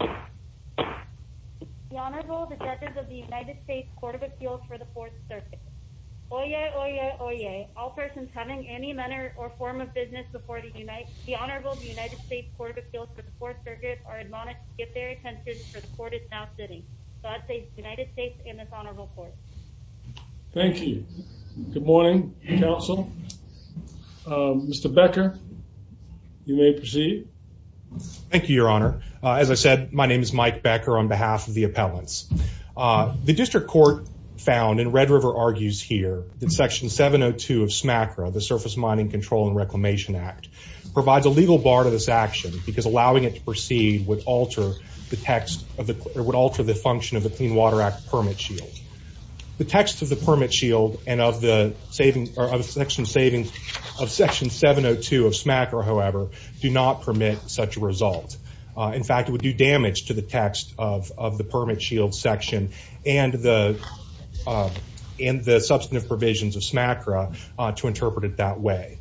The Honorable Detectives of the United States Court of Appeals for the Fourth Circuit. Oyez, oyez, oyez. All persons having any manner or form of business before the United States Court of Appeals for the Fourth Circuit are admonished to give their attention for the court is now sitting. God save the United States and this Honorable Court. Thank you. Good morning, counsel. Mr. Becker, you may proceed. Thank you, Your Honor. As I said, my name is Mike Becker on behalf of the appellants. The district court found, and Red River argues here, that Section 702 of SMACRA, the Surface Mining Control and Reclamation Act, provides a legal bar to this action because allowing it to proceed would alter the function of the Clean Water Act permit shield. The text of the permit shield and of Section 702 of SMACRA, however, do not permit such a result. In fact, it would do damage to the text of the permit shield section and the substantive provisions of SMACRA to interpret it that way.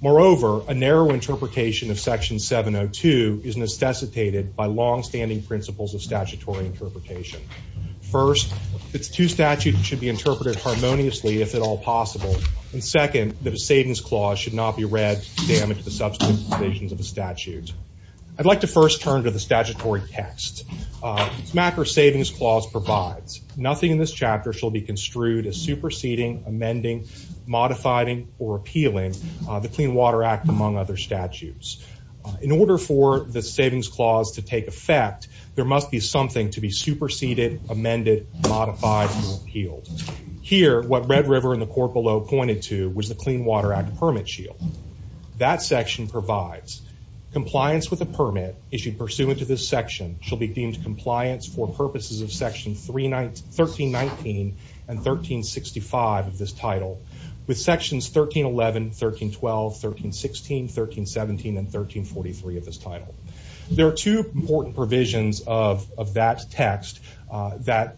Moreover, a narrow interpretation of Section 702 is necessitated by longstanding principles of statutory interpretation. First, its two statutes should be interpreted harmoniously, if at all possible. And second, that a savings clause should not be read to damage the substantive provisions of a statute. I'd like to first turn to the statutory text. SMACRA savings clause provides. Nothing in this chapter shall be construed as superseding, amending, modifying, or appealing the Clean Water Act, among other statutes. In order for the savings clause to take effect, there must be something to be superseded, amended, modified, or appealed. Here, what Red River and the court below pointed to was the Clean Water Act permit shield. That section provides compliance with the permit issued pursuant to this section shall be deemed compliance for purposes of Section 1319 and 1365 of this title, with Sections 1311, 1312, 1316, 1317, and 1343 of this title. There are two important provisions of that text that,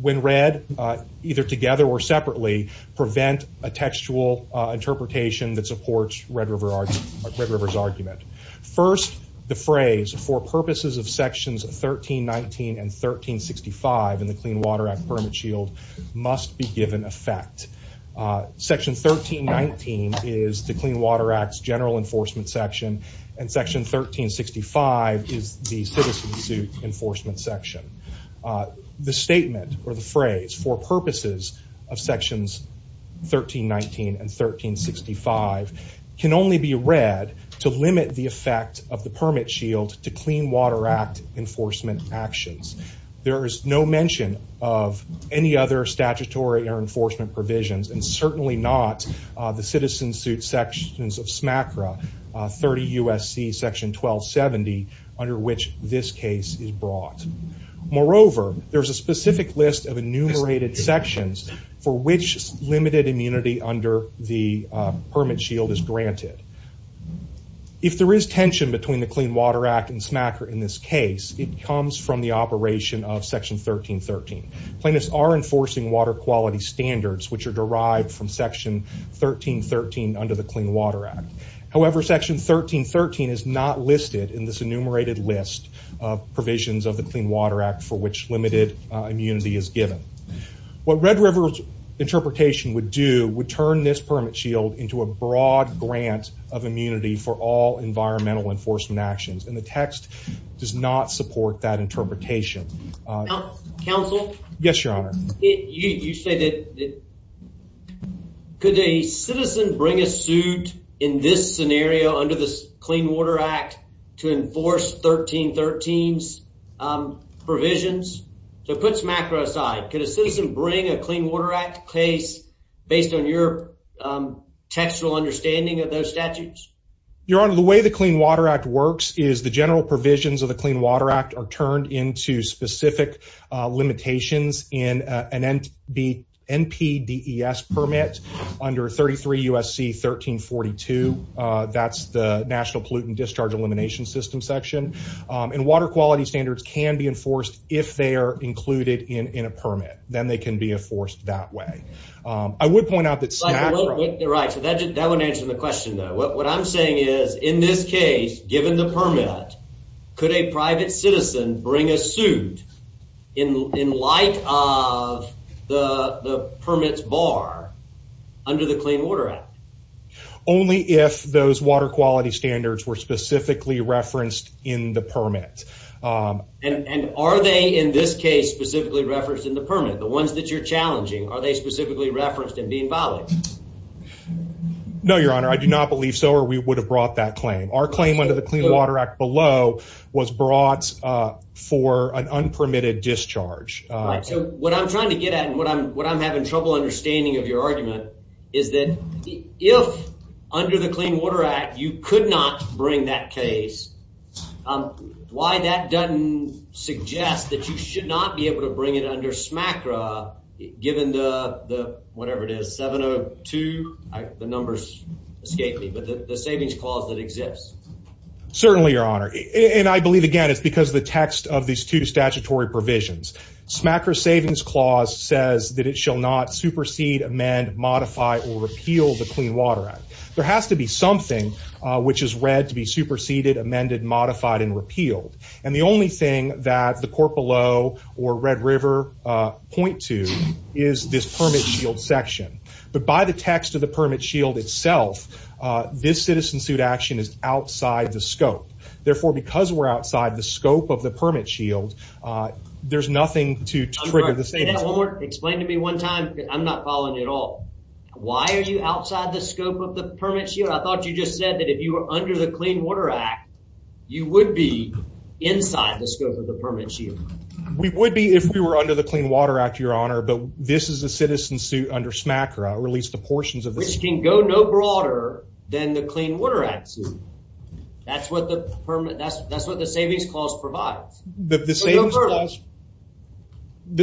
when read either together or separately, prevent a textual interpretation that supports Red River's argument. First, the phrase, for purposes of Sections 1319 and 1365 in the Clean Water Act permit shield, must be given effect. Section 1319 is the Clean Water Act's general enforcement section, and Section 1365 is the citizen suit enforcement section. The statement, or the phrase, for purposes of Sections 1319 and 1365 can only be read to limit the effect of the permit shield to Clean Water Act enforcement actions. There is no mention of any other statutory or enforcement provisions, and certainly not the citizen suit sections of SMACRA 30 U.S.C. Section 1270 under which this case is brought. Moreover, there is a specific list of enumerated sections for which limited immunity under the permit shield is granted. If there is tension between the Clean Water Act and SMACRA in this case, it comes from the operation of Section 1313. Plaintiffs are enforcing water quality standards which are derived from Section 1313 under the Clean Water Act. However, Section 1313 is not listed in this enumerated list of provisions of the Clean Water Act for which limited immunity is given. What Red River's interpretation would do would turn this permit shield into a broad grant of immunity for all environmental enforcement actions, and the text does not support that interpretation. Counsel? Yes, Your Honor. Could a citizen bring a suit in this scenario under the Clean Water Act to enforce 1313's provisions? To put SMACRA aside, could a citizen bring a Clean Water Act case based on your textual understanding of those statutes? Your Honor, the way the Clean Water Act works is the general provisions of the Clean Water Act are turned into specific limitations in an NPDES permit under 33 U.S.C. 1342. That's the National Pollutant Discharge Elimination System section. And water quality standards can be enforced if they are included in a permit. Then they can be enforced that way. I would point out that SMACRA… Right, so that wouldn't answer the question, though. What I'm saying is, in this case, given the permit, could a private citizen bring a suit in light of the permit's bar under the Clean Water Act? Only if those water quality standards were specifically referenced in the permit. And are they, in this case, specifically referenced in the permit? The ones that you're challenging, are they specifically referenced in being violated? No, Your Honor, I do not believe so, or we would have brought that claim. Our claim under the Clean Water Act below was brought for an unpermitted discharge. Right, so what I'm trying to get at, and what I'm having trouble understanding of your argument, is that if under the Clean Water Act you could not bring that case, why that doesn't suggest that you should not be able to bring it under SMACRA given the, whatever it is, 702? The numbers escape me, but the savings clause that exists. Certainly, Your Honor, and I believe, again, it's because of the text of these two statutory provisions. SMACRA's savings clause says that it shall not supersede, amend, modify, or repeal the Clean Water Act. There has to be something which is read to be superseded, amended, modified, and repealed. And the only thing that the court below or Red River point to is this permit shield section. But by the text of the permit shield itself, this citizen suit action is outside the scope. Therefore, because we're outside the scope of the permit shield, there's nothing to trigger the savings clause. Explain to me one time, because I'm not following at all. Why are you outside the scope of the permit shield? I thought you just said that if you were under the Clean Water Act, you would be inside the scope of the permit shield. We would be if we were under the Clean Water Act, Your Honor. But this is a citizen suit under SMACRA. Which can go no broader than the Clean Water Act suit. That's what the savings clause provides.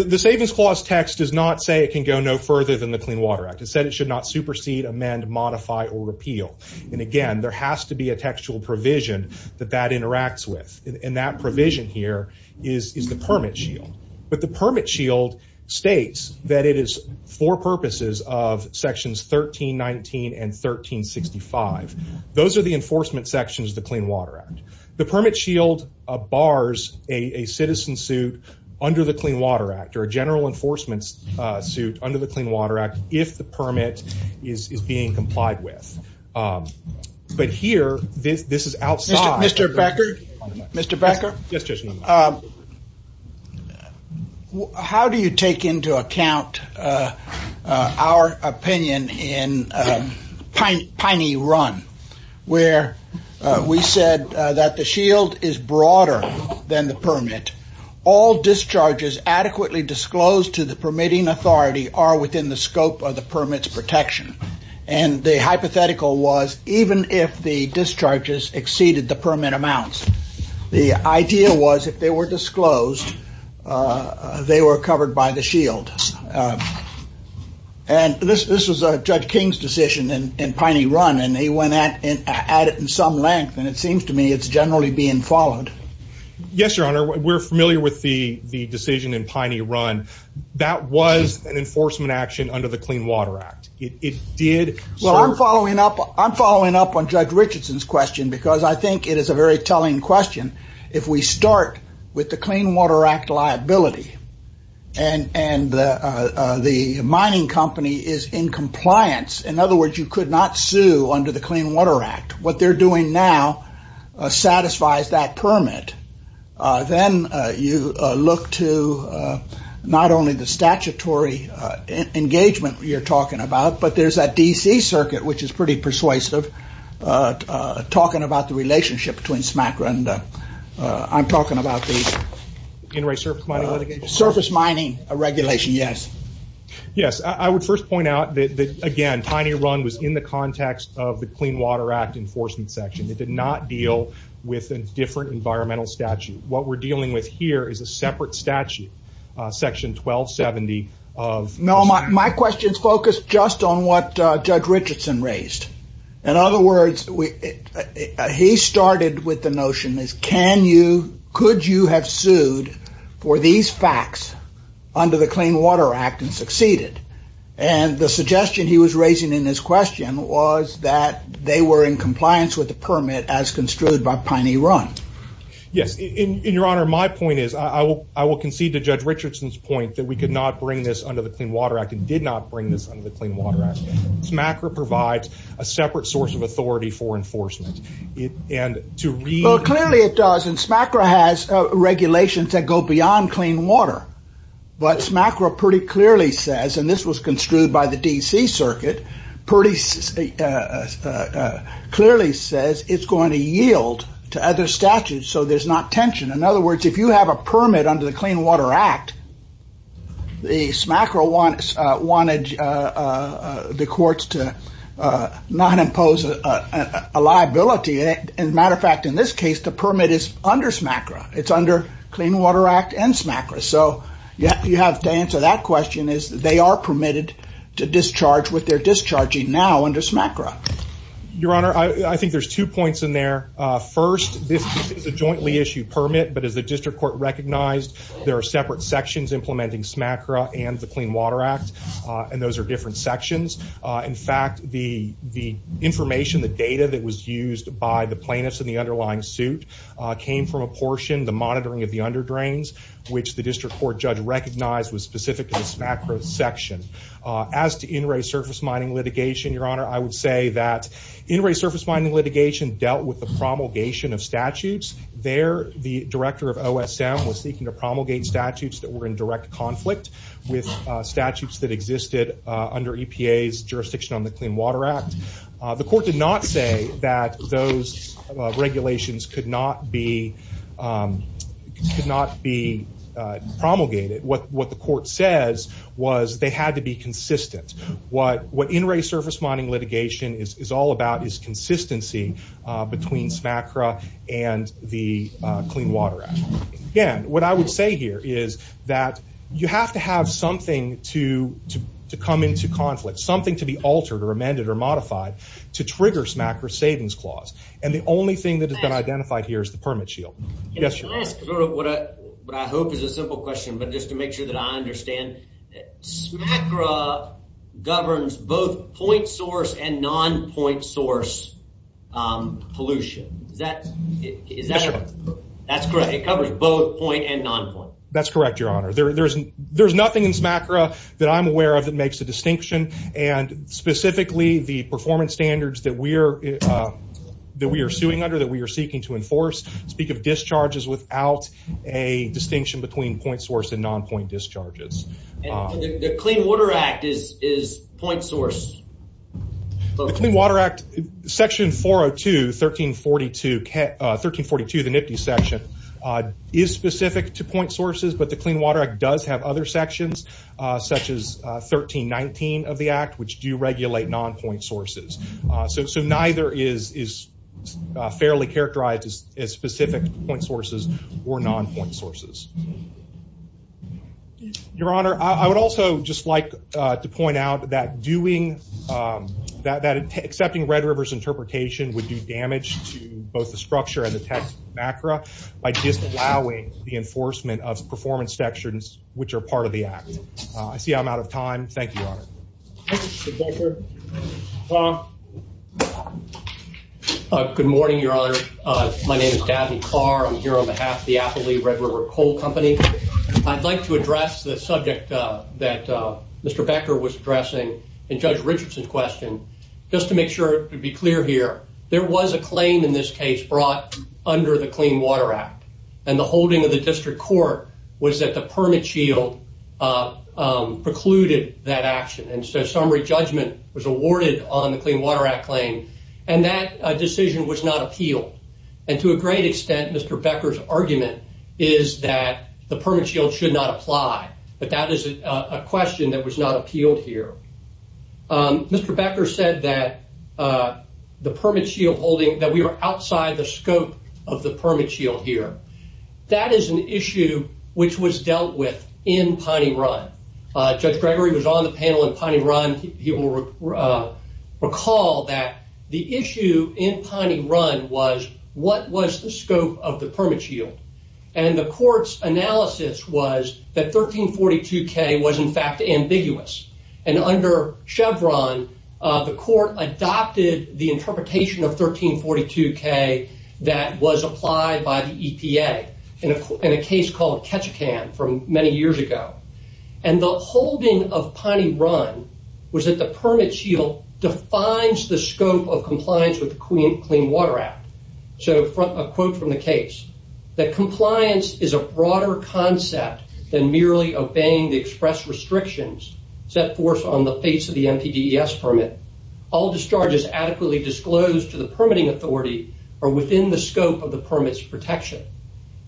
The savings clause text does not say it can go no further than the Clean Water Act. It said it should not supersede, amend, modify, or repeal. And again, there has to be a textual provision that that interacts with. And that provision here is the permit shield. But the permit shield states that it is for purposes of sections 1319 and 1365. Those are the enforcement sections of the Clean Water Act. The permit shield bars a citizen suit under the Clean Water Act, or a general enforcement suit under the Clean Water Act, if the permit is being complied with. But here, this is outside. Mr. Becker? Yes, Judge Newman. How do you take into account our opinion in Piney Run? Where we said that the shield is broader than the permit. All discharges adequately disclosed to the permitting authority are within the scope of the permit's protection. And the hypothetical was even if the discharges exceeded the permit amounts, the idea was if they were disclosed, they were covered by the shield. And this was Judge King's decision in Piney Run, and he went at it in some length. And it seems to me it's generally being followed. Yes, Your Honor. We're familiar with the decision in Piney Run. That was an enforcement action under the Clean Water Act. Well, I'm following up on Judge Richardson's question because I think it is a very telling question. If we start with the Clean Water Act liability and the mining company is in compliance, in other words, you could not sue under the Clean Water Act. What they're doing now satisfies that permit. Then you look to not only the statutory engagement you're talking about, but there's that D.C. circuit, which is pretty persuasive, talking about the relationship between SMACRA and I'm talking about the surface mining regulation, yes. Yes, I would first point out that, again, Piney Run was in the context of the Clean Water Act enforcement section. It did not deal with a different environmental statute. What we're dealing with here is a separate statute, Section 1270 of the statute. No, my question is focused just on what Judge Richardson raised. In other words, he started with the notion, could you have sued for these facts under the Clean Water Act and succeeded? The suggestion he was raising in his question was that they were in compliance with the permit as construed by Piney Run. Yes. Your Honor, my point is, I will concede to Judge Richardson's point that we could not bring this under the Clean Water Act and did not bring this under the Clean Water Act. SMACRA provides a separate source of authority for enforcement. Clearly, it does. SMACRA has regulations that go beyond clean water. But SMACRA pretty clearly says, and this was construed by the D.C. Circuit, pretty clearly says it's going to yield to other statutes so there's not tension. In other words, if you have a permit under the Clean Water Act, the SMACRA wanted the courts to not impose a liability. As a matter of fact, in this case, the permit is under SMACRA. It's under Clean Water Act and SMACRA. So you have to answer that question is they are permitted to discharge what they're discharging now under SMACRA. Your Honor, I think there's two points in there. First, this is a jointly issued permit, but as the district court recognized, there are separate sections implementing SMACRA and the Clean Water Act, and those are different sections. In fact, the information, the data that was used by the plaintiffs in the underlying suit came from a portion, the monitoring of the underdrains, which the district court judge recognized was specific to the SMACRA section. As to in-ray surface mining litigation, Your Honor, I would say that in-ray surface mining litigation dealt with the promulgation of statutes. There, the director of OSM was seeking to promulgate statutes that were in direct conflict with statutes that existed under EPA's jurisdiction on the Clean Water Act. The court did not say that those regulations could not be promulgated. What the court says was they had to be consistent. What in-ray surface mining litigation is all about is consistency between SMACRA and the Clean Water Act. Again, what I would say here is that you have to have something to come into conflict, something to be altered or amended or modified to trigger SMACRA's savings clause, and the only thing that has been identified here is the permit shield. Yes, Your Honor. Can I ask what I hope is a simple question, but just to make sure that I understand? SMACRA governs both point source and non-point source pollution. Is that correct? That's correct. That's correct, Your Honor. There's nothing in SMACRA that I'm aware of that makes a distinction, and specifically the performance standards that we are suing under, that we are seeking to enforce, speak of discharges without a distinction between point source and non-point discharges. The Clean Water Act is point source. The Clean Water Act, Section 402, 1342, the NIPTI section, is specific to point sources, but the Clean Water Act does have other sections, such as 1319 of the Act, which do regulate non-point sources. So neither is fairly characterized as specific to point sources or non-point sources. Your Honor, I would also just like to point out that accepting Red River's interpretation would do damage to both the structure and the text of SMACRA by disallowing the enforcement of performance sections, which are part of the Act. I see I'm out of time. Thank you, Your Honor. Good morning, Your Honor. My name is David Carr. I'm here on behalf of the Applee Red River Coal Company. I'd like to address the subject that Mr. Becker was addressing in Judge Richardson's question. Just to make sure to be clear here, there was a claim in this case brought under the Clean Water Act, and the holding of the district court was that the permit shield precluded that action. And so summary judgment was awarded on the Clean Water Act claim, and that decision was not appealed. And to a great extent, Mr. Becker's argument is that the permit shield should not apply, but that is a question that was not appealed here. Mr. Becker said that the permit shield holding, that we are outside the scope of the permit shield here. That is an issue which was dealt with in Piney Run. Judge Gregory was on the panel in Piney Run. He will recall that the issue in Piney Run was, what was the scope of the permit shield? And the court's analysis was that 1342K was, in fact, ambiguous and under Chevron, the court adopted the interpretation of 1342K that was applied by the EPA in a case called Ketchikan from many years ago. And the holding of Piney Run was that the permit shield defines the scope of compliance with the Clean Water Act. So a quote from the case, that compliance is a broader concept than merely obeying the express restrictions set forth on the face of the MPDES permit. All discharges adequately disclosed to the permitting authority are within the scope of the permit's protection.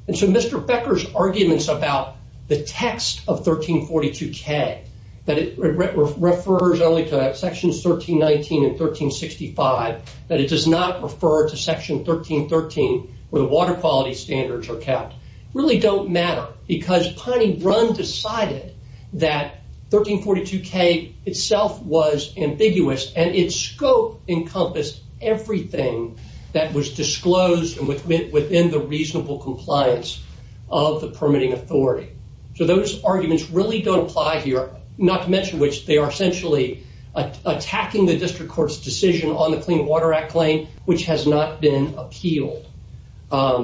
And so Mr. Becker's arguments about the text of 1342K, that it refers only to sections 1319 and 1365, that it does not refer to section 1313, where the water quality standards are kept, really don't matter because Piney Run decided that 1342K itself was ambiguous and its scope encompassed everything that was disclosed within the reasonable compliance of the permitting authority. So those arguments really don't apply here. Not to mention which, they are essentially attacking the district court's decision on the Clean Water Act claim, which has not been appealed. I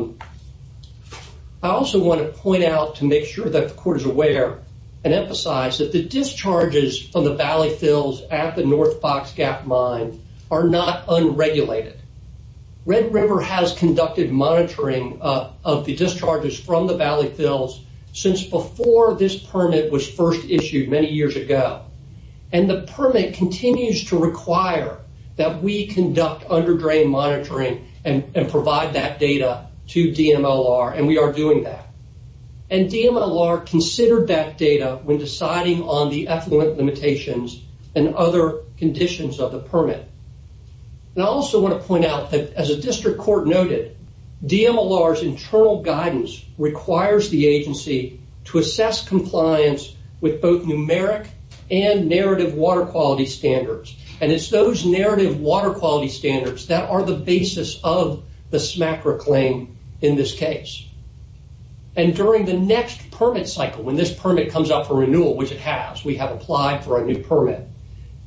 also want to point out to make sure that the court is aware and emphasize that the discharges from the valley fills at the North Fox Gap Mine are not unregulated. Red River has conducted monitoring of the discharges from the valley fills since before this permit was first issued many years ago. And the permit continues to require that we conduct under-drain monitoring and provide that data to DMLR, and we are doing that. And DMLR considered that data when deciding on the effluent limitations and other conditions of the permit. And I also want to point out that as a district court noted, DMLR's internal guidance requires the agency to assess compliance with both numeric and narrative water quality standards. And it's those narrative water quality standards that are the basis of the SMACRA claim in this case. And during the next permit cycle, when this permit comes up for renewal, which it has, we have applied for a new permit,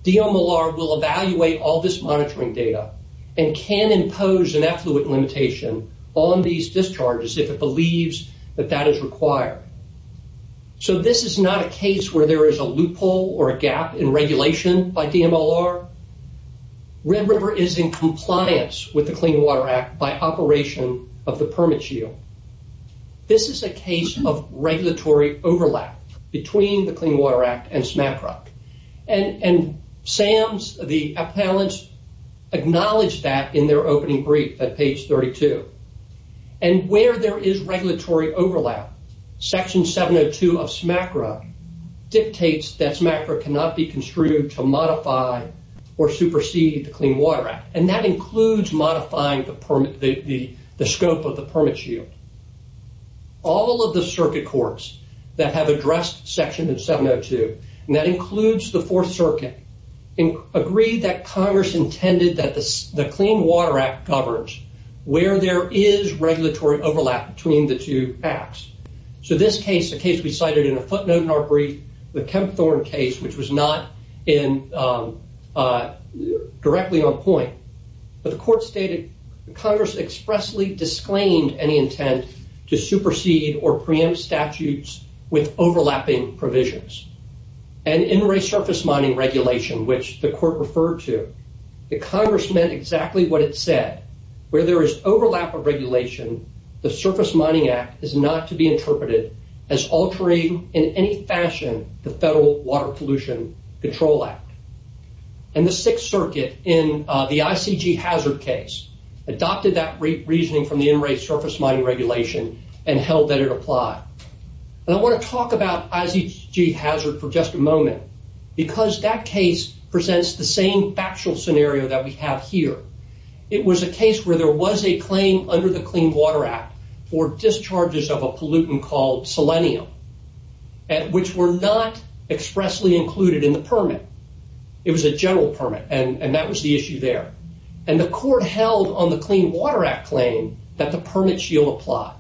DMLR will evaluate all this monitoring data and can impose an effluent limitation on these discharges if it believes that that is required. So this is not a case where there is a loophole or a gap in regulation by DMLR. Red River is in compliance with the Clean Water Act by operation of the permit shield. This is a case of regulatory overlap between the Clean Water Act and SMACRA. And SAMS, the appellants, acknowledge that in their opening brief at page 32. And where there is regulatory overlap, Section 702 of SMACRA dictates that SMACRA cannot be construed to modify or supersede the Clean Water Act. And that includes modifying the scope of the permit shield. All of the circuit courts that have addressed Section 702, and that includes the Fourth Circuit, agreed that Congress intended that the Clean Water Act governs where there is regulatory overlap between the two acts. So this case, a case we cited in a footnote in our brief, the Kempthorne case, which was not directly on point, but the court stated Congress expressly disclaimed any intent to supersede or preempt statutes with overlapping provisions. And in resurface mining regulation, which the court referred to, the Congress meant exactly what it said. Where there is overlap of regulation, the Surface Mining Act is not to be interpreted as altering in any fashion the Federal Water Pollution Control Act. And the Sixth Circuit, in the ICG hazard case, adopted that reasoning from the in-rate surface mining regulation and held that it applied. And I want to talk about ICG hazard for just a moment, because that case presents the same factual scenario that we have here. It was a case where there was a claim under the Clean Water Act for discharges of a pollutant called selenium, which were not expressly included in the permit. It was a general permit, and that was the issue there. And the court held on the Clean Water Act claim that the permit shield applied.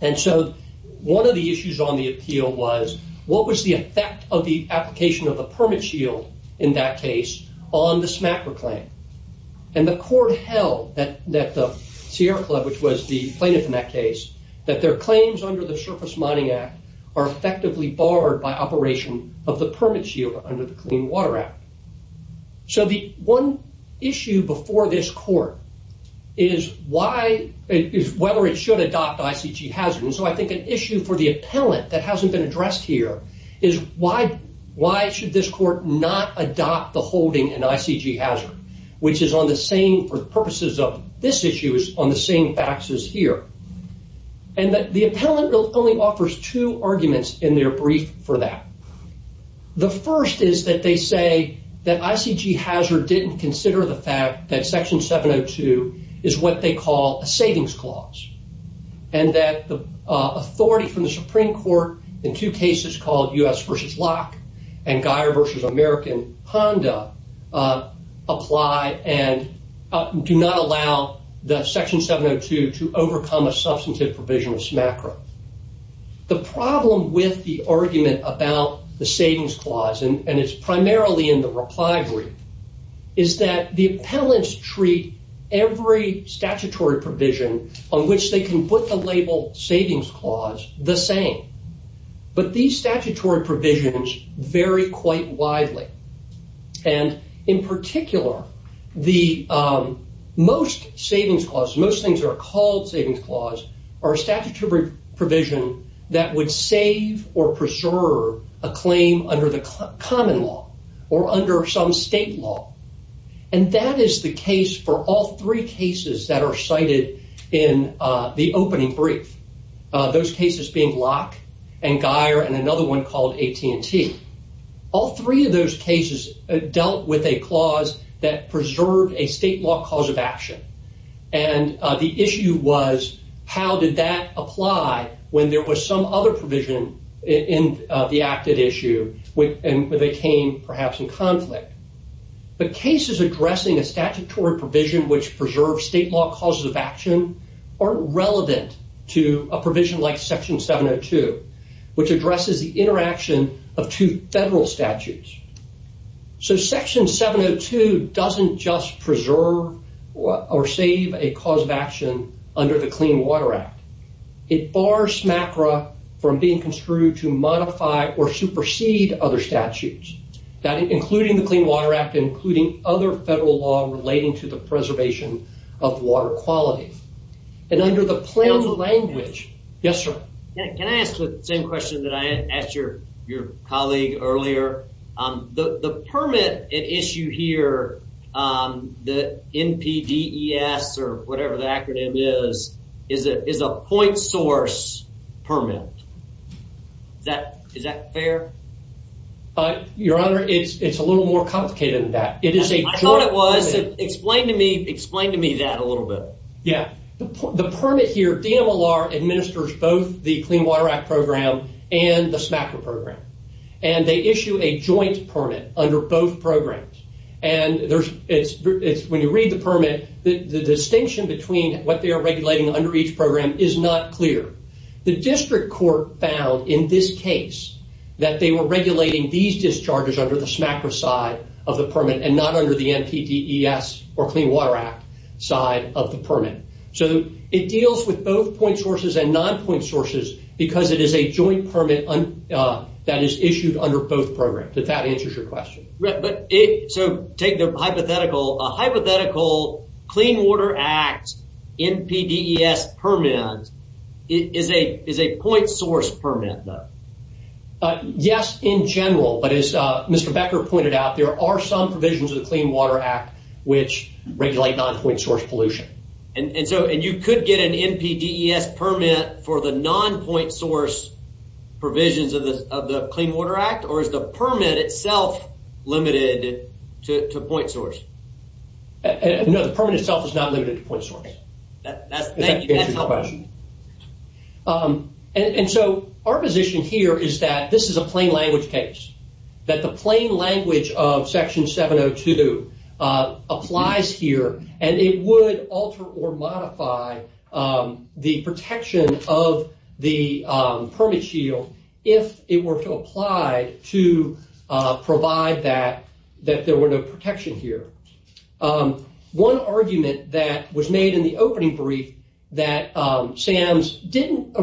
And so one of the issues on the appeal was, what was the effect of the application of the permit shield in that case on the SMACRA claim? And the court held that the Sierra Club, which was the plaintiff in that case, that their claims under the Surface Mining Act are effectively barred by operation of the permit shield under the Clean Water Act. So the one issue before this court is whether it should adopt ICG hazard. And so I think an issue for the appellant that hasn't been addressed here is, why should this court not adopt the holding in ICG hazard, which is on the same, for purposes of this issue, is on the same faxes here. And the appellant only offers two arguments in their brief for that. The first is that they say that ICG hazard didn't consider the fact that Section 702 is what they call a savings clause, and that the authority from the Supreme Court in two cases called U.S. v. Locke and Guyer v. American Honda apply and do not allow the Section 702 to overcome a substantive provision of SMACRA. The problem with the argument about the savings clause, and it's primarily in the reply brief, is that the appellants treat every statutory provision on which they can put the label savings clause the same. But these statutory provisions vary quite widely. And in particular, most savings clauses, most things that are called savings clause, are a statutory provision that would save or preserve a claim under the common law or under some state law. And that is the case for all three cases that are cited in the opening brief. Those cases being Locke and Guyer and another one called AT&T. All three of those cases dealt with a clause that preserved a state law cause of action. And the issue was, how did that apply when there was some other provision in the acted issue, and they came perhaps in conflict? But cases addressing a statutory provision which preserves state law causes of action aren't relevant to a provision like Section 702, which addresses the interaction of two federal statutes. So Section 702 doesn't just preserve or save a cause of action under the Clean Water Act. It bars MACRA from being construed to modify or supersede other statutes, including the Clean Water Act, including other federal law relating to the preservation of water quality. And under the planned language... Yes, sir. Can I ask the same question that I asked your colleague earlier? The permit at issue here, the NPDES or whatever the acronym is, is a point source permit. Is that fair? Your Honor, it's a little more complicated than that. I thought it was. Explain to me that a little bit. Yeah. The permit here, DMLR administers both the Clean Water Act program and the SMACRA program. And they issue a joint permit under both programs. And when you read the permit, the distinction between what they are regulating under each program is not clear. The district court found in this case that they were regulating these discharges under the SMACRA side of the permit and not under the NPDES or Clean Water Act side of the permit. So it deals with both point sources and non-point sources because it is a joint permit that is issued under both programs. If that answers your question. So take the hypothetical. A hypothetical Clean Water Act NPDES permit is a point source permit, though. Yes, in general. But as Mr. Becker pointed out, there are some provisions of the Clean Water Act which regulate non-point source pollution. And you could get an NPDES permit for the non-point source provisions of the Clean Water Act? Or is the permit itself limited to point source? No, the permit itself is not limited to point source. That answers your question. And so our position here is that this is a plain language case. That the plain language of Section 702 applies here and it would alter or modify the protection of the permit shield if it were to apply to provide that there were no protection here. One argument that was made in the opening brief that SAMS didn't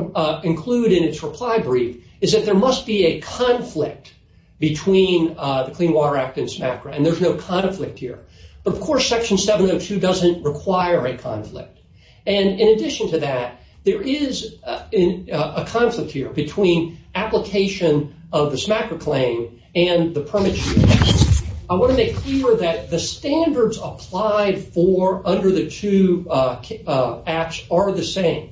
include in its reply brief is that there must be a conflict between the Clean Water Act and SMACRA. And there's no conflict here. But of course, Section 702 doesn't require a conflict. And in addition to that, there is a conflict here between application of the SMACRA claim and the permit shield. I want to make clear that the standards applied for under the two acts are the same.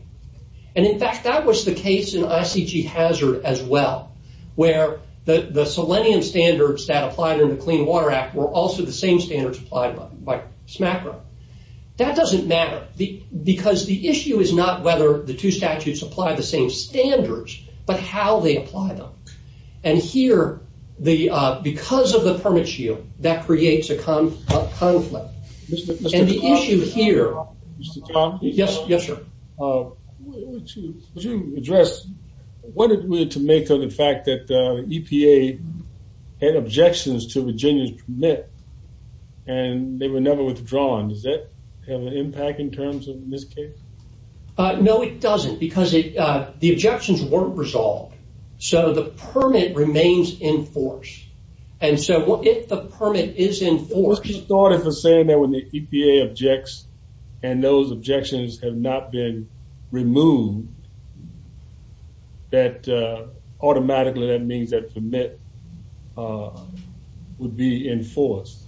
And in fact, that was the case in ICG Hazard as well, where the Selenium standards that applied in the Clean Water Act were also the same standards applied by SMACRA. That doesn't matter because the issue is not whether the two statutes apply the same standards, but how they apply them. And here, because of the permit shield, that creates a conflict. And the issue here... Mr. Tompkins? Yes, yes, sir. Would you address what it would to make of the fact that EPA had objections to Virginia's permit and they were never withdrawn? Does that have an impact in terms of in this case? No, it doesn't because the objections weren't resolved. So the permit remains in force. And so if the permit is in force... You started with saying that when the EPA objects and those objections have not been removed, that automatically that means that the permit would be in force.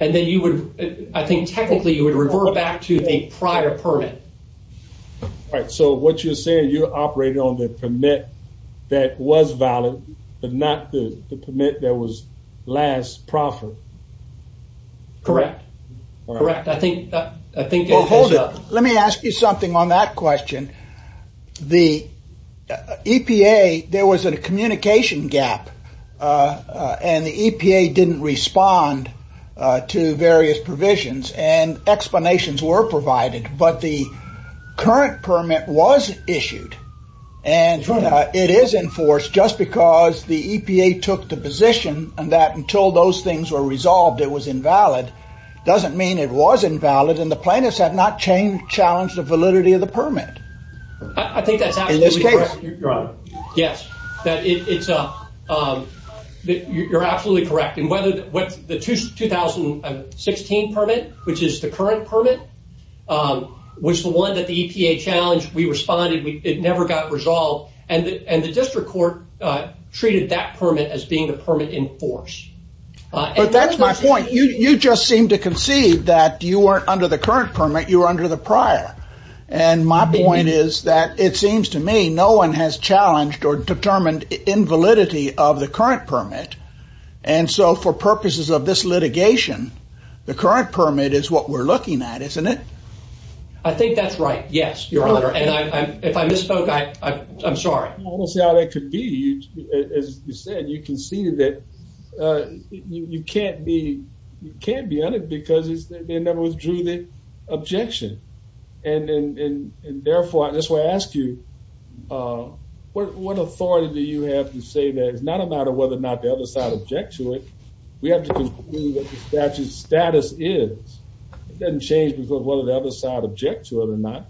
And then you would, I think technically you would revert back to the prior permit. All right, so what you're saying, you operated on the permit that was valid, but not the permit that was last proffered. Correct. Correct. I think... Hold it. Let me ask you something on that question. The EPA, there was a communication gap and the EPA didn't respond to various provisions and explanations were provided, but the current permit was issued and it is in force just because the EPA took the position that until those things were resolved it was invalid doesn't mean it was invalid and the plaintiffs have not challenged the validity of the permit. I think that's absolutely correct. In this case. Your Honor. Yes, you're absolutely correct. The 2016 permit, which is the current permit, was the one that the EPA challenged. We responded. It never got resolved. And the district court treated that permit as being the permit in force. But that's my point. You just seem to concede that you weren't under the current permit, you were under the prior. And my point is that it seems to me no one has challenged or determined invalidity of the current permit. And so for purposes of this litigation, the current permit is what we're looking at, isn't it? I think that's right. Yes, Your Honor. And if I misspoke, I'm sorry. I don't see how that could be. As you said, you conceded that you can't be under because they never withdrew the objection. And therefore, that's why I ask you, what authority do you have to say that it's not a matter of whether or not the other side object to it. We have to conclude that the statute's status is. It doesn't change because of whether the other side object to it or not.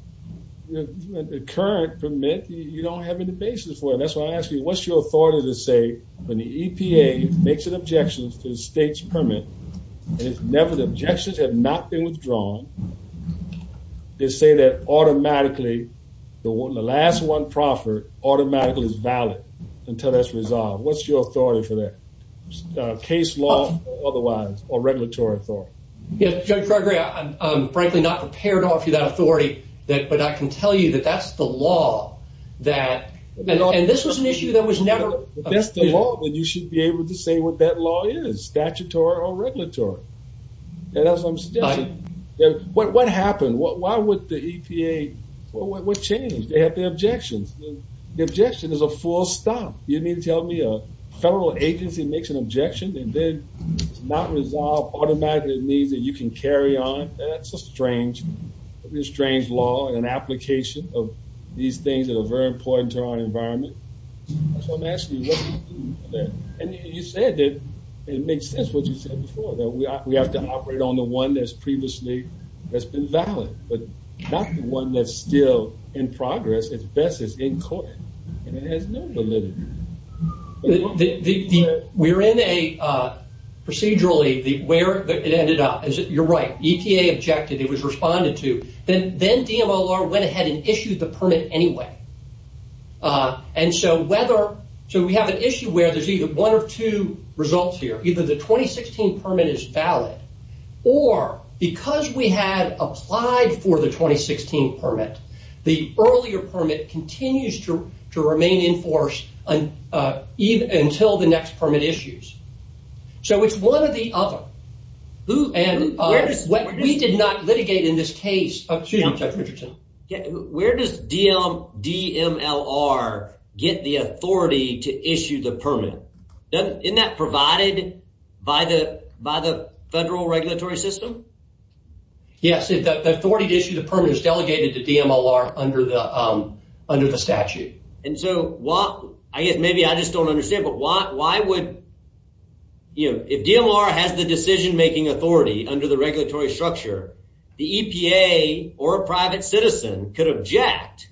The current permit, you don't have any basis for it. That's why I ask you, what's your authority to say when the EPA makes an objection to the state's permit, and if never the objections have not been withdrawn, they say that automatically the last one proffered automatically is valid until that's resolved. What's your authority for that, case law or otherwise, or regulatory authority? Judge Gregory, I'm frankly not prepared to offer you that authority, but I can tell you that that's the law. And this was an issue that was never— If that's the law, then you should be able to say what that law is, statutory or regulatory. And as I'm suggesting, what happened? Why would the EPA—what changed? They have the objections. The objection is a full stop. You mean to tell me a federal agency makes an objection and then it's not resolved automatically. It means that you can carry on? That's a strange law and application of these things that are very important to our environment. So I'm asking you, what do you do with that? And you said that it makes sense what you said before, that we have to operate on the one that's previously—that's been valid, but not the one that's still in progress. It's best that it's in court. And it has no validity. We're in a—procedurally, where it ended up. You're right. EPA objected. It was responded to. Then DMOR went ahead and issued the permit anyway. And so whether—so we have an issue where there's either one or two results here. Either the 2016 permit is valid, or because we had applied for the 2016 permit, the earlier permit continues to remain in force until the next permit issues. So it's one or the other. We did not litigate in this case—excuse me, Judge Richardson. Where does DMLR get the authority to issue the permit? Isn't that provided by the federal regulatory system? Yes. The authority to issue the permit is delegated to DMLR under the statute. And so why—I guess maybe I just don't understand, but why would— if DMLR has the decision-making authority under the regulatory structure, the EPA or a private citizen could object.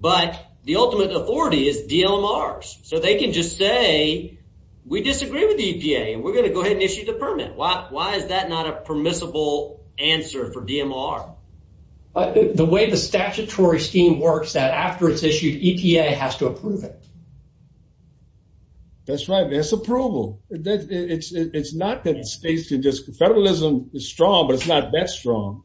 But the ultimate authority is DMLR's. So they can just say, we disagree with the EPA, and we're going to go ahead and issue the permit. Why is that not a permissible answer for DMLR? The way the statutory scheme works, after it's issued, EPA has to approve it. That's right. That's approval. It's not that states can just—federalism is strong, but it's not that strong.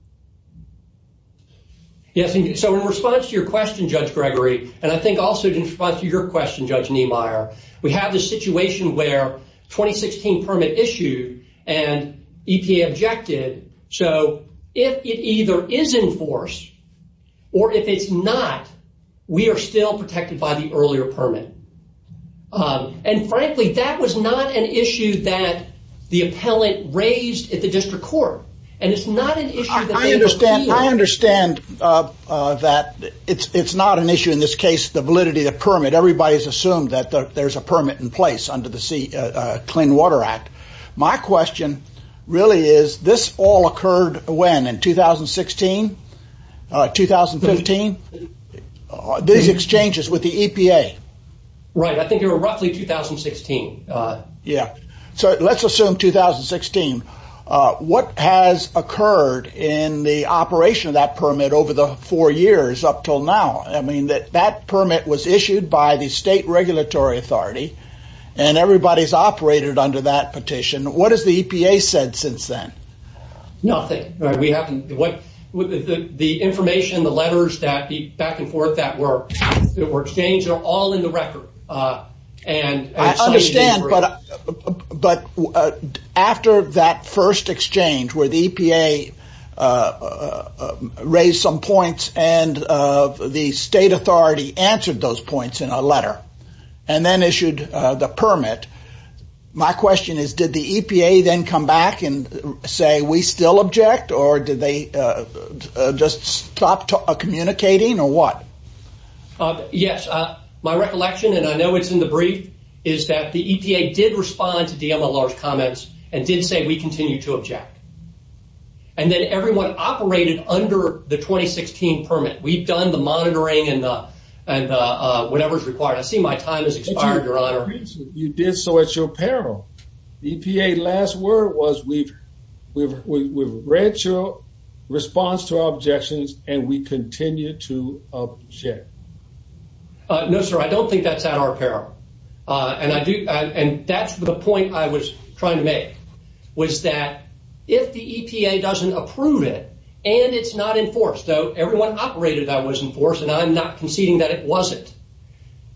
Yes. So in response to your question, Judge Gregory, and I think also in response to your question, Judge Niemeyer, we have this situation where 2016 permit issued and EPA objected. So if it either is in force or if it's not, we are still protected by the earlier permit. And frankly, that was not an issue that the appellant raised at the district court. And it's not an issue that— I understand that it's not an issue in this case, the validity of the permit. Everybody's assumed that there's a permit in place under the Clean Water Act. My question really is, this all occurred when? In 2016? 2015? These exchanges with the EPA. Right. I think they were roughly 2016. Yeah. So let's assume 2016. What has occurred in the operation of that permit over the four years up until now? I mean, that permit was issued by the state regulatory authority, and everybody's operated under that petition. What has the EPA said since then? Nothing. The information, the letters back and forth that were exchanged are all in the record. I understand, but after that first exchange where the EPA raised some points and the state authority answered those points in a letter and then issued the permit, my question is, did the EPA then come back and say we still object, or did they just stop communicating, or what? Yes. My recollection, and I know it's in the brief, is that the EPA did respond to DMLR's comments and did say we continue to object. And then everyone operated under the 2016 permit. We've done the monitoring and whatever's required. I see my time has expired, Your Honor. You did so at your peril. The EPA last word was we've read your response to our objections, and we continue to object. No, sir, I don't think that's at our peril. And that's the point I was trying to make, was that if the EPA doesn't approve it and it's not enforced, though everyone operated that was enforced, and I'm not conceding that it wasn't,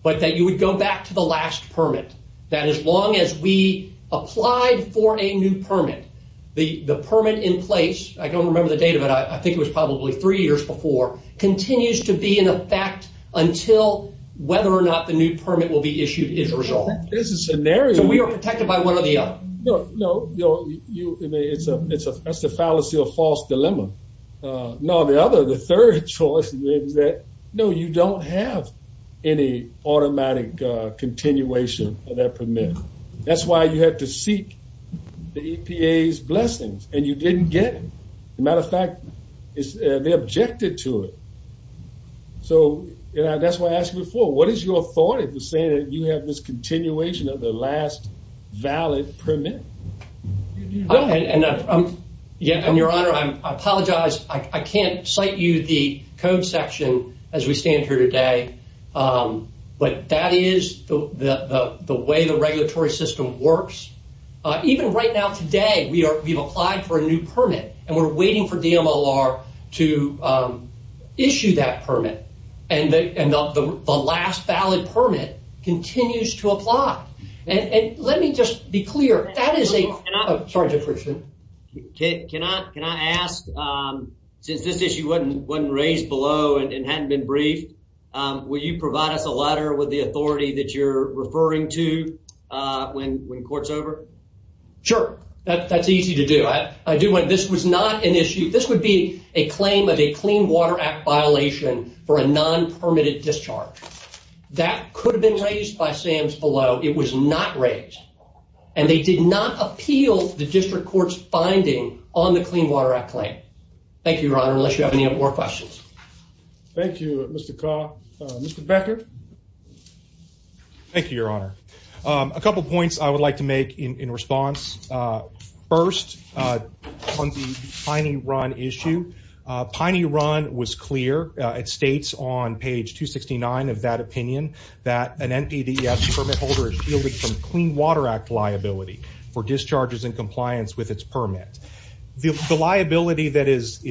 but that you would go back to the last permit, that as long as we applied for a new permit, the permit in place, I don't remember the date of it, I think it was probably three years before, continues to be in effect until whether or not the new permit will be issued is resolved. So we are protected by one or the other. No, that's a fallacy or false dilemma. No, the other, the third choice is that, no, you don't have any automatic continuation of that permit. That's why you had to seek the EPA's blessings, and you didn't get them. As a matter of fact, they objected to it. So that's why I asked you before, what is your authority for saying that you have this continuation of the last valid permit? And your Honor, I apologize, I can't cite you the code section as we stand here today, but that is the way the regulatory system works. Even right now today, we've applied for a new permit, and we're waiting for DMOR to issue that permit, and the last valid permit continues to apply. And let me just be clear, that is a... Can I ask, since this issue wasn't raised below and hadn't been briefed, will you provide us a letter with the authority that you're referring to when court's over? Sure, that's easy to do. This was not an issue. This would be a claim of a Clean Water Act violation for a non-permitted discharge. That could have been raised by SAMS below. It was not raised, and they did not appeal the district court's finding on the Clean Water Act Thank you, Your Honor, unless you have any more questions. Thank you, Mr. Carr. Mr. Becker? Thank you, Your Honor. A couple points I would like to make in response. First, on the Piney Run issue, Piney Run was clear, it states on page 269 of that opinion, that an NPDES permit holder is yielded from Clean Water Act liability for discharges in compliance with its permit. The liability that is...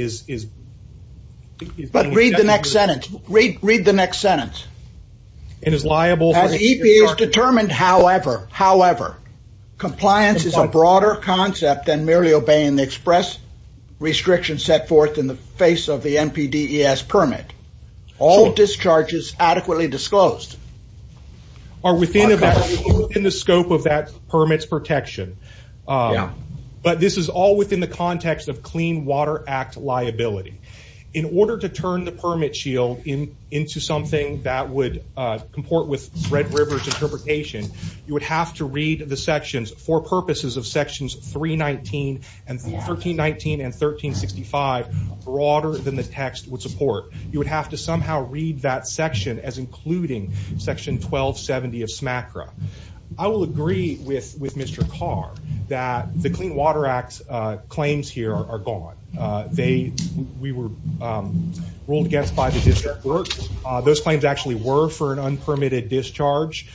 But read the next sentence. Read the next sentence. It is liable for... As EPA has determined, however, however, compliance is a broader concept than merely obeying the express restrictions set forth in the face of the NPDES permit. All discharges adequately disclosed... Are within the scope of that permit's protection. Yeah. But this is all within the context of Clean Water Act liability. In order to turn the permit shield into something that would comport with Red River's interpretation, you would have to read the sections for purposes of sections 319, and 1319, and 1365, broader than the text would support. You would have to somehow read that section as including section 1270 of SMACRA. I will agree with Mr. Carr that the Clean Water Act claims here are gone. They... We were ruled against by the district court. Those claims actually were for an unpermitted discharge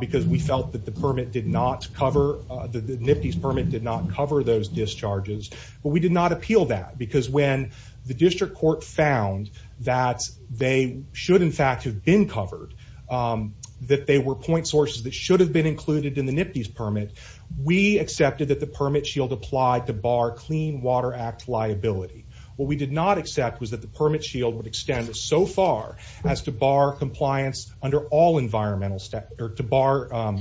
because we felt that the permit did not cover... The NPDES permit did not cover those discharges. But we did not appeal that because when the district court found that they should, in fact, have been covered, that they were point sources that should have been included in the NPDES permit, we accepted that the permit shield applied to bar Clean Water Act liability. What we did not accept was that the permit shield would extend so far as to bar compliance under all environmental stat... Or to bar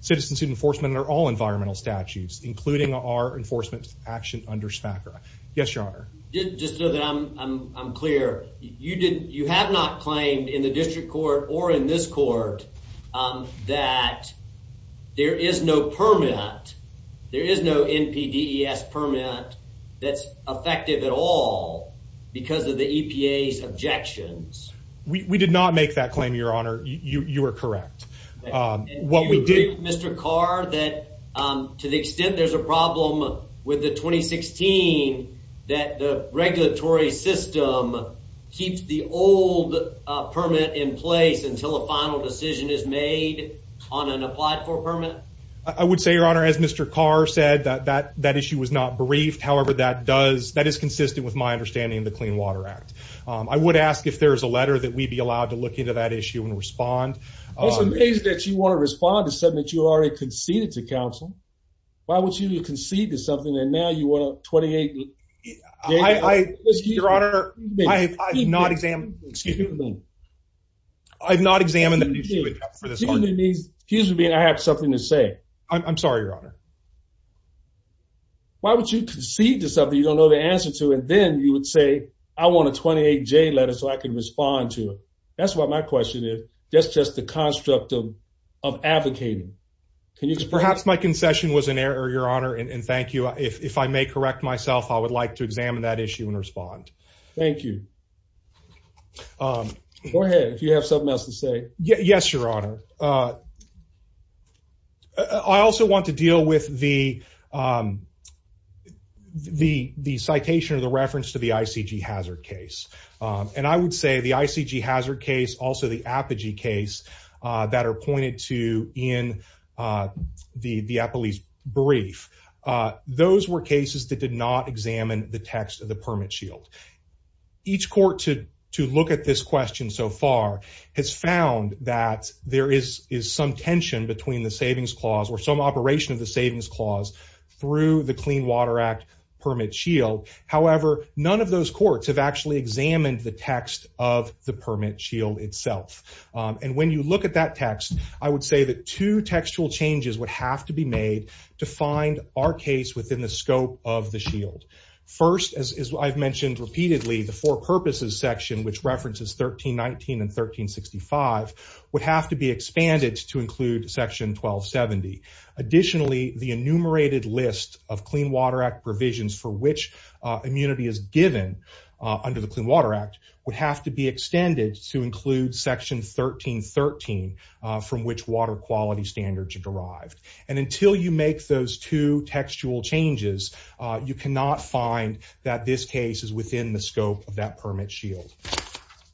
citizenship enforcement under all environmental statutes, including our enforcement action under SMACRA. Yes, Your Honor. Just so that I'm clear, you have not claimed in the district court or in this court that there is no permit. There is no NPDES permit that's effective at all because of the EPA's objections. We did not make that claim, Your Honor. You are correct. What we did... Does that mean that there's a problem with the 2016 that the regulatory system keeps the old permit in place until a final decision is made on an applied for permit? I would say, Your Honor, as Mr. Carr said, that issue was not briefed. However, that does... That is consistent with my understanding of the Clean Water Act. I would ask if there is a letter that we'd be allowed to look into that issue and respond. It's amazing that you want to respond to something that you already conceded to council. Why would you concede to something and now you want a 28-J letter? Your Honor, I have not examined... Excuse me. I have not examined the issue for this argument. Excuse me. I have something to say. I'm sorry, Your Honor. Why would you concede to something you don't know the answer to and then you would say, I want a 28-J letter so I can respond to it? That's what my question is. That's just the construct of advocating. Perhaps my concession was an error, Your Honor, and thank you. If I may correct myself, I would like to examine that issue and respond. Thank you. Go ahead if you have something else to say. Yes, Your Honor. I also want to deal with the citation or the reference to the ICG hazard case. I would say the ICG hazard case, also the Apogee case that are pointed to in the police brief, those were cases that did not examine the text of the permit shield. Each court to look at this question so far has found that there is some tension between the savings clause or some operation of the savings clause through the Clean Water Act permit shield. However, none of those courts have actually examined the text of the permit shield itself. And when you look at that text, I would say that two textual changes would have to be made to find our case within the scope of the shield. First, as I've mentioned repeatedly, the four purposes section, which references 1319 and 1365, would have to be expanded to include section 1270. Additionally, the enumerated list of Clean Water Act provisions for which immunity is given under the Clean Water Act would have to be extended to include section 1313, from which water quality standards are derived. And until you make those two textual changes, you cannot find that this case is within the scope of that permit shield.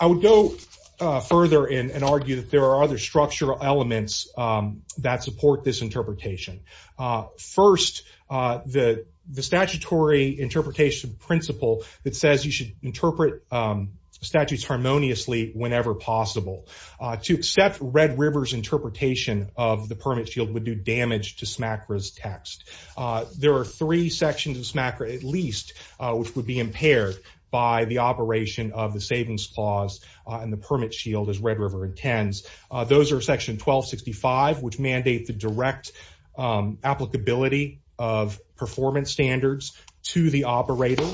I would go further and argue that there are other structural elements that support this interpretation. First, the statutory interpretation principle that says you should interpret statutes harmoniously whenever possible. To accept Red River's interpretation of the permit shield would do damage to SMACRA's text. There are three sections of SMACRA, at least, which would be impaired by the operation of the savings clause and the permit shield, as Red River intends. Those are section 1265, which mandate the direct applicability of performance standards to the operator.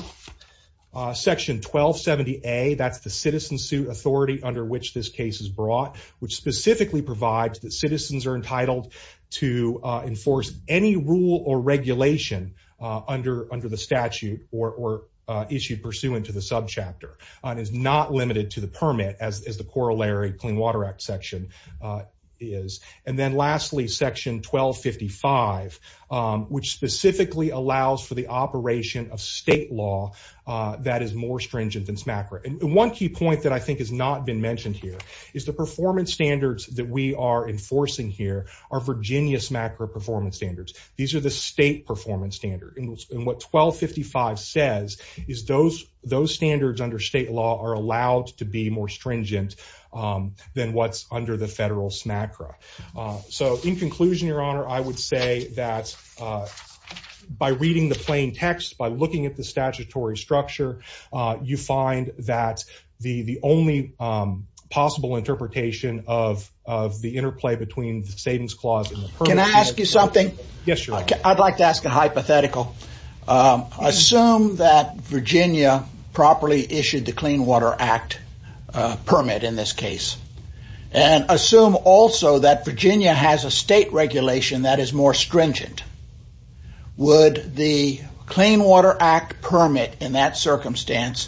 Section 1270A, that's the citizen suit authority under which this case is brought, which specifically provides that citizens are entitled to enforce any rule or regulation under the statute or issue pursuant to the subchapter. It is not limited to the permit, as the corollary Clean Water Act section is. And then lastly, section 1255, which specifically allows for the operation of state law that is more stringent than SMACRA. And one key point that I think has not been mentioned here is the performance standards that we are enforcing here are Virginia SMACRA performance standards. These are the state performance standards. And what 1255 says is those standards under state law are allowed to be more stringent than what's under the federal SMACRA. So in conclusion, Your Honor, I would say that by reading the plain text, by looking at the statutory structure, you find that the only possible interpretation of the interplay between the savings clause and the permit shield. Can I ask you something? Yes, Your Honor. I'd like to ask a hypothetical. Assume that Virginia properly issued the Clean Water Act permit in this case. And assume also that Virginia has a state regulation that is more stringent. Would the Clean Water Act permit in that circumstance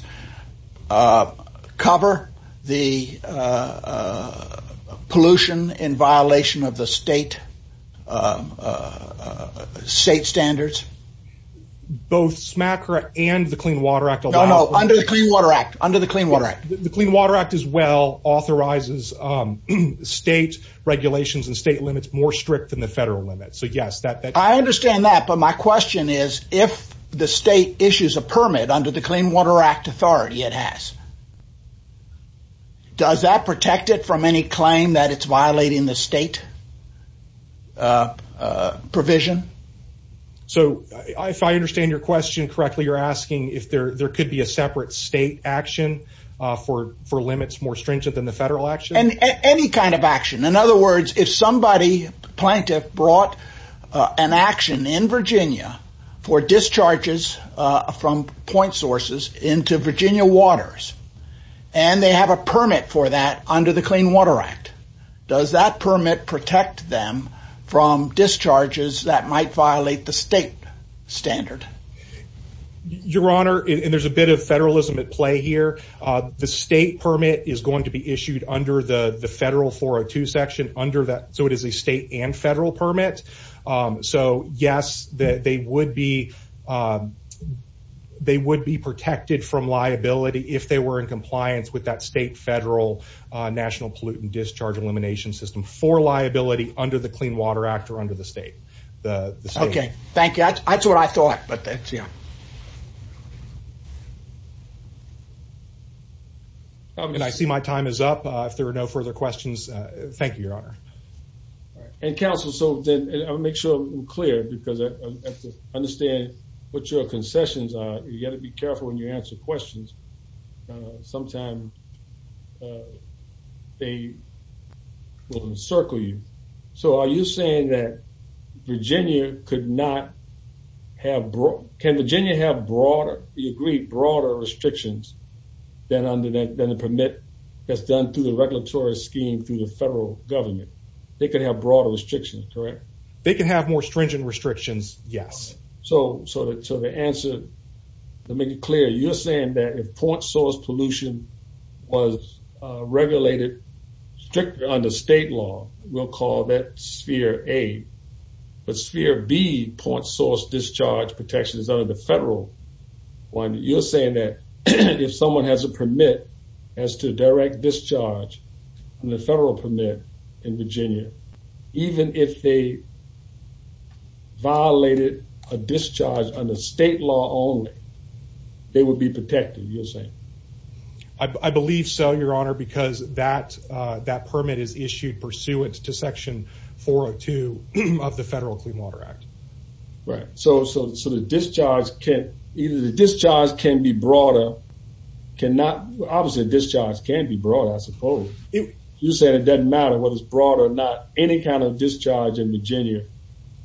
cover the pollution in state standards? Both SMACRA and the Clean Water Act. No, no. Under the Clean Water Act. Under the Clean Water Act. The Clean Water Act as well authorizes state regulations and state limits more strict than the federal limits. So, yes. I understand that. But my question is if the state issues a permit under the Clean Water Act authority, it has, does that protect it from any claim that it's violating the state provision? So, if I understand your question correctly, you're asking if there could be a separate state action for limits more stringent than the federal action? Any kind of action. In other words, if somebody, a plaintiff, brought an action in Virginia for discharges from point sources into Virginia waters, and they have a permit for that under the Clean Water Act, does that permit protect them from discharges that might violate the state standard? Your Honor, and there's a bit of federalism at play here, the state permit is going to be issued under the federal 402 section under that. So, it is a state and federal permit. So, yes, they would be protected from liability if they were in compliance with that state, federal, national pollutant discharge elimination system for liability under the Clean Water Act or under the state. Okay. Thank you. That's what I thought. And I see my time is up. If there are no further questions, thank you, Your Honor. And, counsel, I'll make sure I'm clear because I have to understand what your concessions are. You got to be careful when you answer questions. Sometimes they will encircle you. So, are you saying that Virginia could not have – can Virginia have broader, you agree, broader restrictions than the permit that's done through the regulatory scheme through the federal government? They could have broader restrictions, correct? They can have more stringent restrictions, yes. So, to answer, to make it clear, you're saying that if point source pollution was regulated strictly under state law, we'll call that sphere A. But sphere B, point source discharge protection, is under the federal one. You're saying that if someone has a permit as to direct discharge on the federal permit in Virginia, even if they violated a discharge under state law only, they would be protected, you're saying? I believe so, Your Honor, because that permit is issued pursuant to Section 402 of the Federal Clean Water Act. Right. So, the discharge can be broader, cannot – obviously, the discharge can be broader, I suppose. You said it doesn't matter whether it's broader or not. Any kind of discharge in Virginia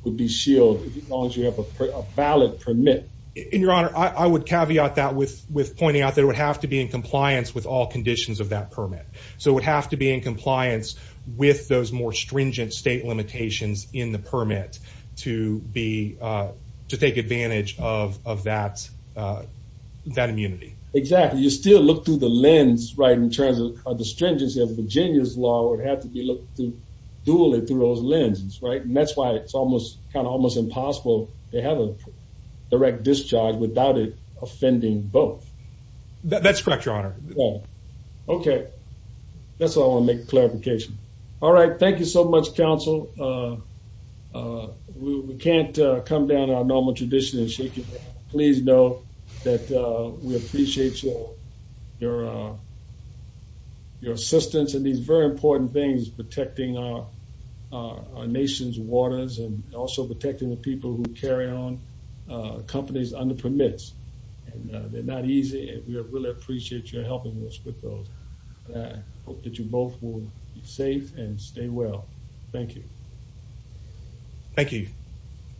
would be shielded as long as you have a valid permit. And, Your Honor, I would caveat that with pointing out that it would have to be in compliance with all conditions of that permit. So, it would have to be in compliance with those more stringent state limitations in the permit to be – to take advantage of that immunity. Exactly. You still look through the lens, right, in terms of the stringency of Virginia's law. It would have to be looked through – dually through those lenses, right? And that's why it's almost – kind of almost impossible to have a direct discharge without it offending both. That's correct, Your Honor. Yeah. Okay. That's what I want to make a clarification. All right. Thank you so much, counsel. We can't come down to our normal tradition and shake your hand. Please know that we appreciate your assistance in these very important things, protecting our nation's waters and also protecting the people who carry on companies under permits. And they're not easy, and we really appreciate your helping us with those. And I hope that you both will be safe and stay well. Thank you. Thank you.